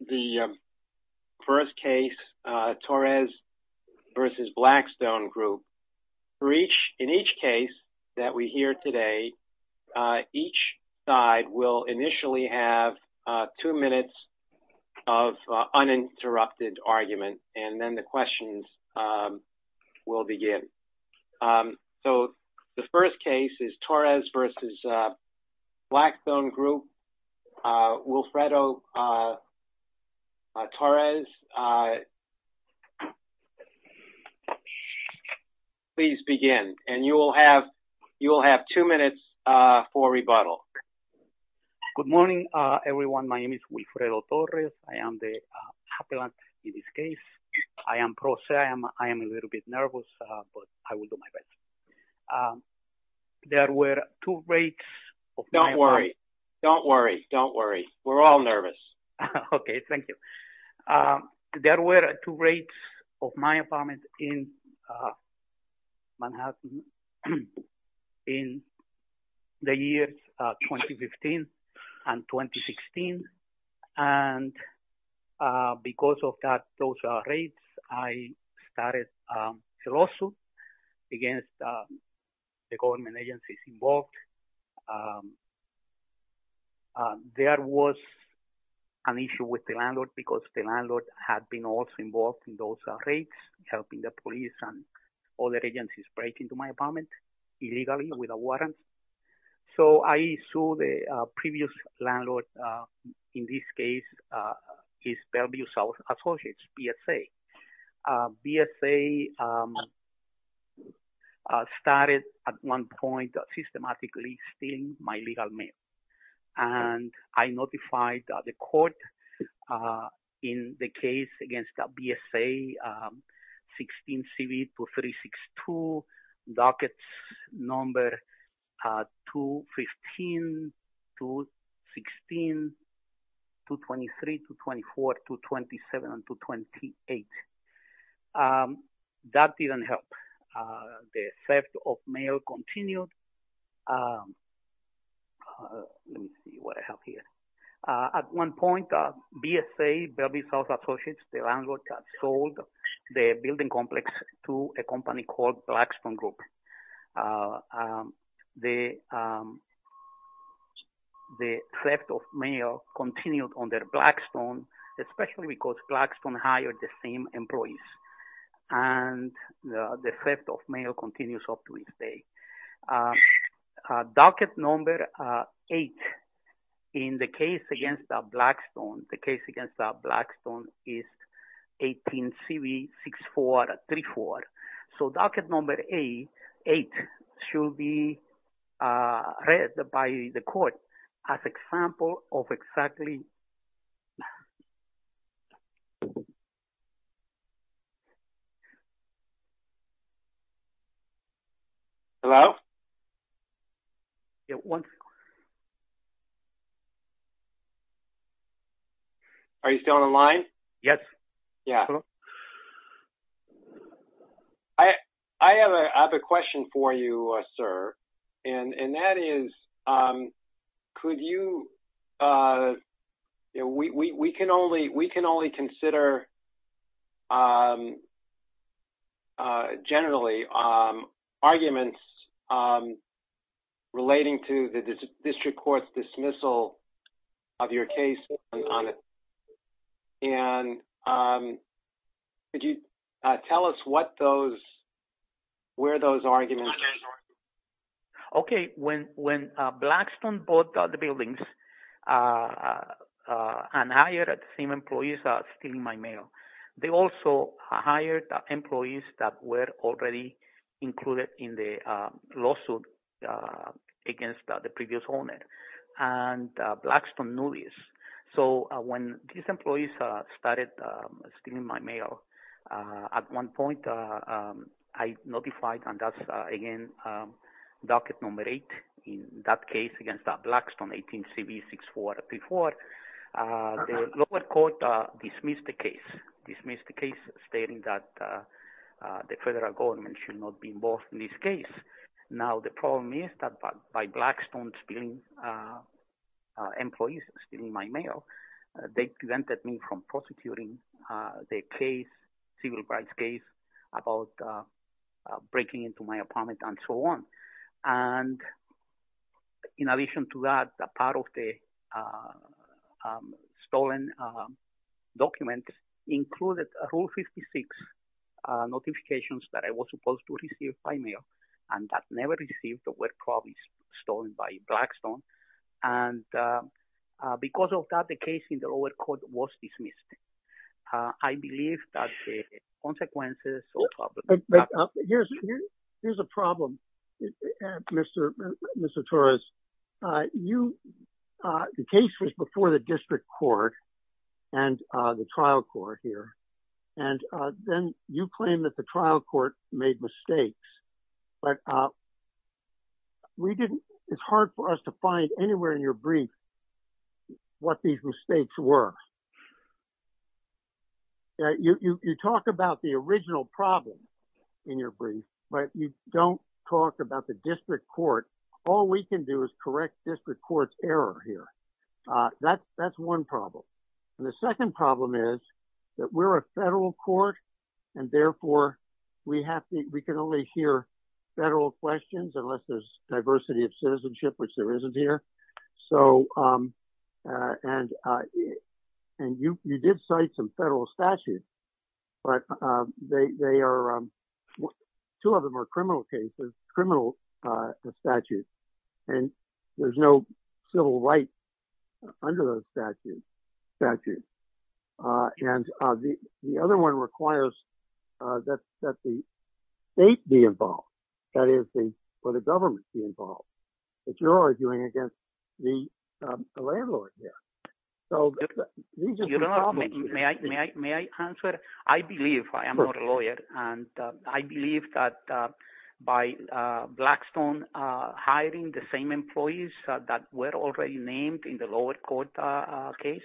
the first case, Torres v. Blackstone Group. In each case that we hear today, each side will initially have two minutes of uninterrupted argument and then the questions will begin. So the first case is Torres v. Blackstone Group. Wilfredo Torres, please begin. And you will have two minutes for rebuttal. Good morning everyone. My name is Wilfredo Torres. I am the appellant in this case. I am pro se. I am a little bit nervous but I will do my best. There were two rates. Don't worry, don't worry, don't worry. We're all nervous. Okay, thank you. There were two rates of my apartment in Manhattan in the against the government agencies involved. There was an issue with the landlord because the landlord had been also involved in those rates, helping the police and other agencies break into my apartment illegally with a warrant. So I saw the previous landlord in this case his Bellevue South Associates, BSA. BSA started at one point systematically stealing my legal mail and I notified the court in the case against BSA 16 to 24 to 27 to 28. That didn't help. The theft of mail continued. At one point BSA, Bellevue South Associates, the landlord had sold the building complex to a company called Blackstone Group. The theft of mail continued on their Blackstone, especially because Blackstone hired the same employees and the theft of mail continues up to this day. Docket number 8 in the case against Blackstone, the case against Blackstone is 18CV6434. So docket number 8 should be read by the court as an example of exactly... Hello? Are you still on the line? Yes. Yeah. I have a question for you, sir, and that is could you... we can only consider, generally, arguments relating to the district court's dismissal of your case. And could you tell us what those... Okay. When Blackstone bought the buildings and hired the same employees stealing my mail, they also hired employees that were already included in the lawsuit against the previous owner. And Blackstone knew this. So when these docket number 8 in that case against that Blackstone 18CV6434, the lower court dismissed the case. Dismissed the case stating that the federal government should not be involved in this case. Now the problem is that by Blackstone stealing employees, stealing my mail, they prevented me from prosecuting their case, civil rights case, about breaking into my apartment, and so on. And in addition to that, a part of the stolen document included Rule 56 notifications that I was supposed to receive by mail and that never received, that were probably stolen by Blackstone. And because of that, the case in the lower court was dismissed. I believe that the consequences... Here's a problem, Mr. Torres. The case was before the district court and the trial court here, and then you claim that the trial court made mistakes. But we didn't... It's hard for us to find anywhere in your brief what these mistakes were. You talk about the original problem in your brief, but you don't talk about the district court. All we can do is correct district court's error here. That's one problem. And the second problem is that we're a federal court and therefore we have to... We can only hear federal questions unless there's diversity of cases. And you did cite some federal statutes, but they are... Two of them are criminal cases, criminal statutes, and there's no civil rights under those statutes. And the other one requires that the state be involved, that is, for the government to be involved. But you're arguing against the landlord there. So... May I answer? I believe, I am not a lawyer, and I believe that by Blackstone hiring the same employees that were already named in the lower court case,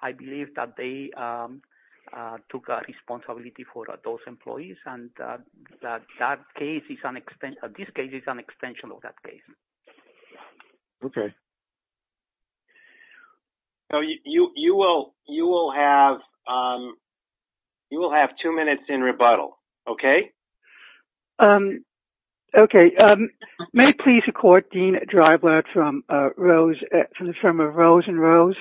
I believe that they took a responsibility for those employees and that case is... This case is an extension of that case. Okay. So you will have two minutes in rebuttal, okay? Okay. May it please the court, Dean Dryblad from Rose, from the firm of Rose and Rose.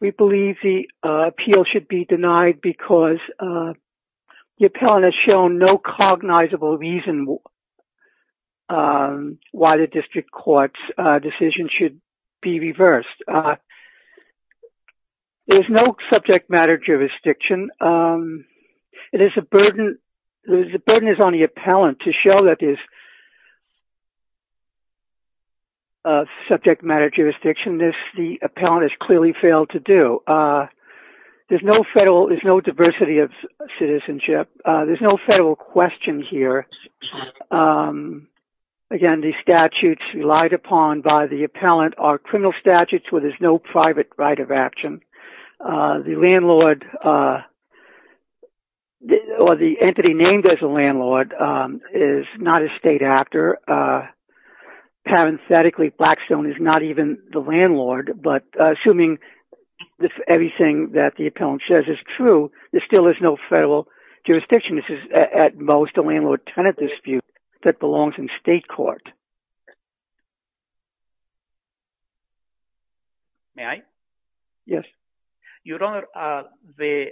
We believe the appeal should be shown no cognizable reason why the district court's decision should be reversed. There's no subject matter jurisdiction. It is a burden. The burden is on the appellant to show that there's a subject matter jurisdiction. This, the appellant has clearly failed to do. There's no federal... There's no citizenship. There's no federal question here. Again, the statutes relied upon by the appellant are criminal statutes where there's no private right of action. The landlord, or the entity named as a landlord, is not a state actor. Parenthetically, Blackstone is not even the landlord, but assuming that everything that the appellant says is true, there still is no federal jurisdiction. This is at most a landlord-tenant dispute that belongs in state court. May I? Yes. Your Honor, the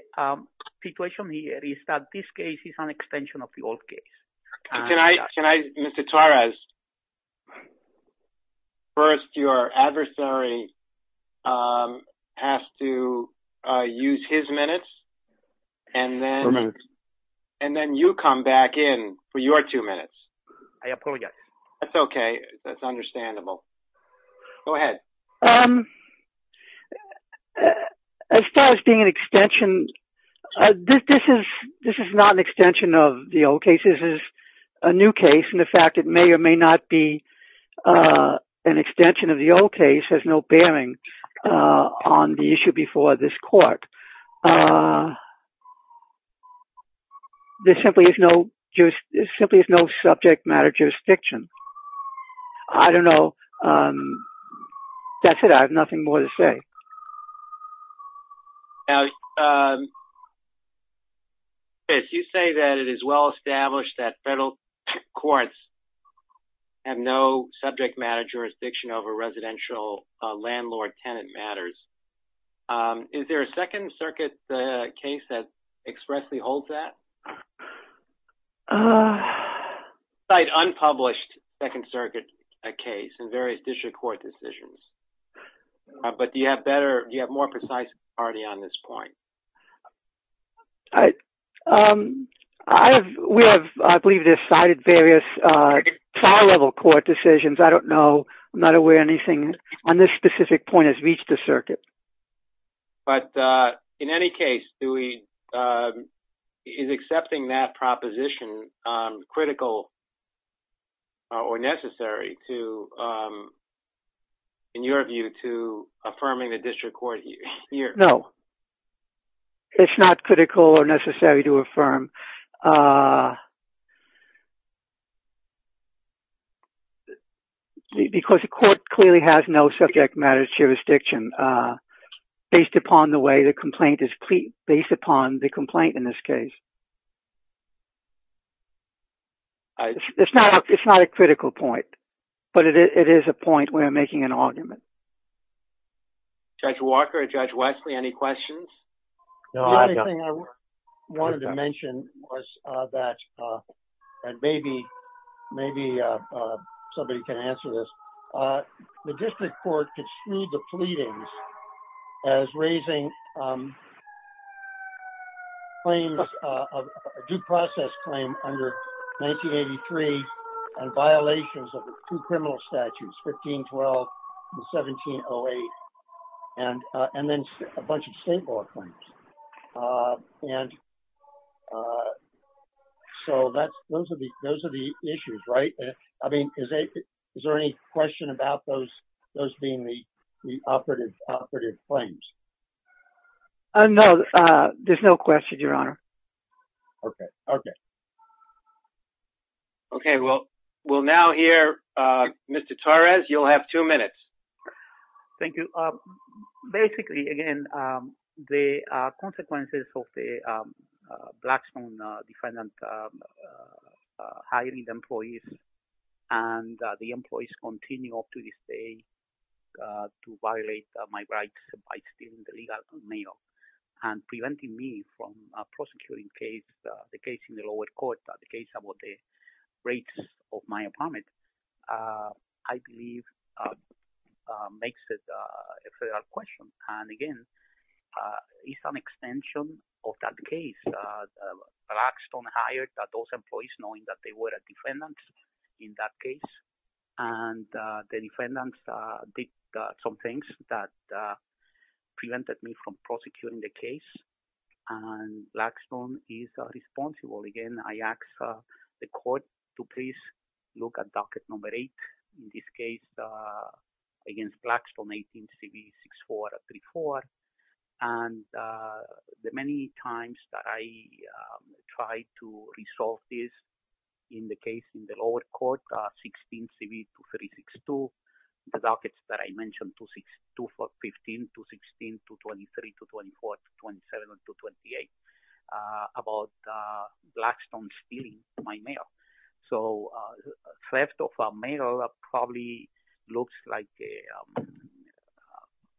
situation here is that this case is an extension of the old case. Can I... Mr. Torres, first your adversary has to use his minutes, and then you come back in for your two minutes. I apologize. That's okay. That's understandable. Go ahead. As far as being an extension, this is not an extension of the old case. This is a new case, and the fact it may or may not be an extension of the old case has no bearing on the issue before this court. There simply is no subject matter jurisdiction. I don't know. That's it. I have nothing more to say. Now, Chris, you say that it is well established that federal courts have no subject matter jurisdiction over residential landlord-tenant matters. Is there a Second Circuit case that expressly holds that? Cite unpublished Second Circuit case in various district court decisions, but do you have more precise authority on this point? I believe we have cited various trial-level court decisions. I don't know. I'm not aware anything on this specific point has reached the circuit. But in any case, is accepting that proposition critical or necessary to, in your view, to affirming the district court here? No. It's not critical or necessary to affirm because the court clearly has no subject matter jurisdiction based upon the way the complaint is based upon the complaint in this case. It's not a critical point, but it is a point where we're making an argument. Judge Walker, Judge Wesley, any questions? The only thing I wanted to mention was that, and maybe somebody can answer this, the district court construed the pleadings as raising claims, a due process claim under 1983 and violations of the two criminal statutes, 1512 and 1708, and then a bunch of state law claims. And so those are the issues, right? I mean, is there any question about those being the operative claims? No, there's no question, Your Honor. Okay, okay. Okay, well, we'll now hear Mr. Torres. You'll have two minutes. Thank you. Basically, again, the consequences of the Blackstone defendant hiring the employees continue up to this day to violate my rights by stealing the legal mail and preventing me from prosecuting the case in the lower court, the case about the rates of my apartment, I believe makes it a federal question. And again, it's an extension of that case. Blackstone hired those employees knowing that they were a defendant in that case, and the defendants did some things that prevented me from prosecuting the case, and Blackstone is responsible. Again, I ask the court to please look at docket number 8, in this case against Blackstone 18CV6434, and the many times that I tried to resolve this in the case in the lower court, 16CV2362, the dockets that I mentioned, 215, 216, 223, 224, 227, 228, about Blackstone stealing my mail. So theft of a mail probably looks like a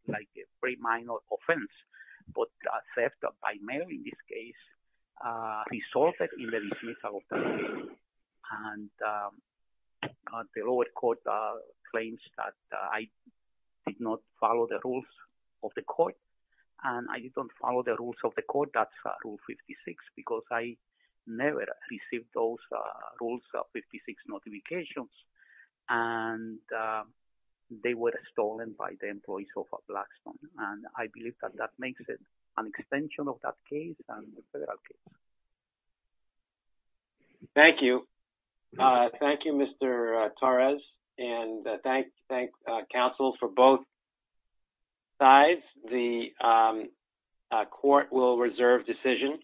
very minor offense, but theft by mail in this case resulted in the dismissal of the mail, and the lower court claims that I did not follow the rules of the court, and I didn't follow the rules, and I never received those rules of 56 notifications, and they were stolen by the employees of Blackstone, and I believe that that makes it an extension of that case. Thank you. Thank you, Mr. Torres, and thank counsels for both sides. The court will reserve decision.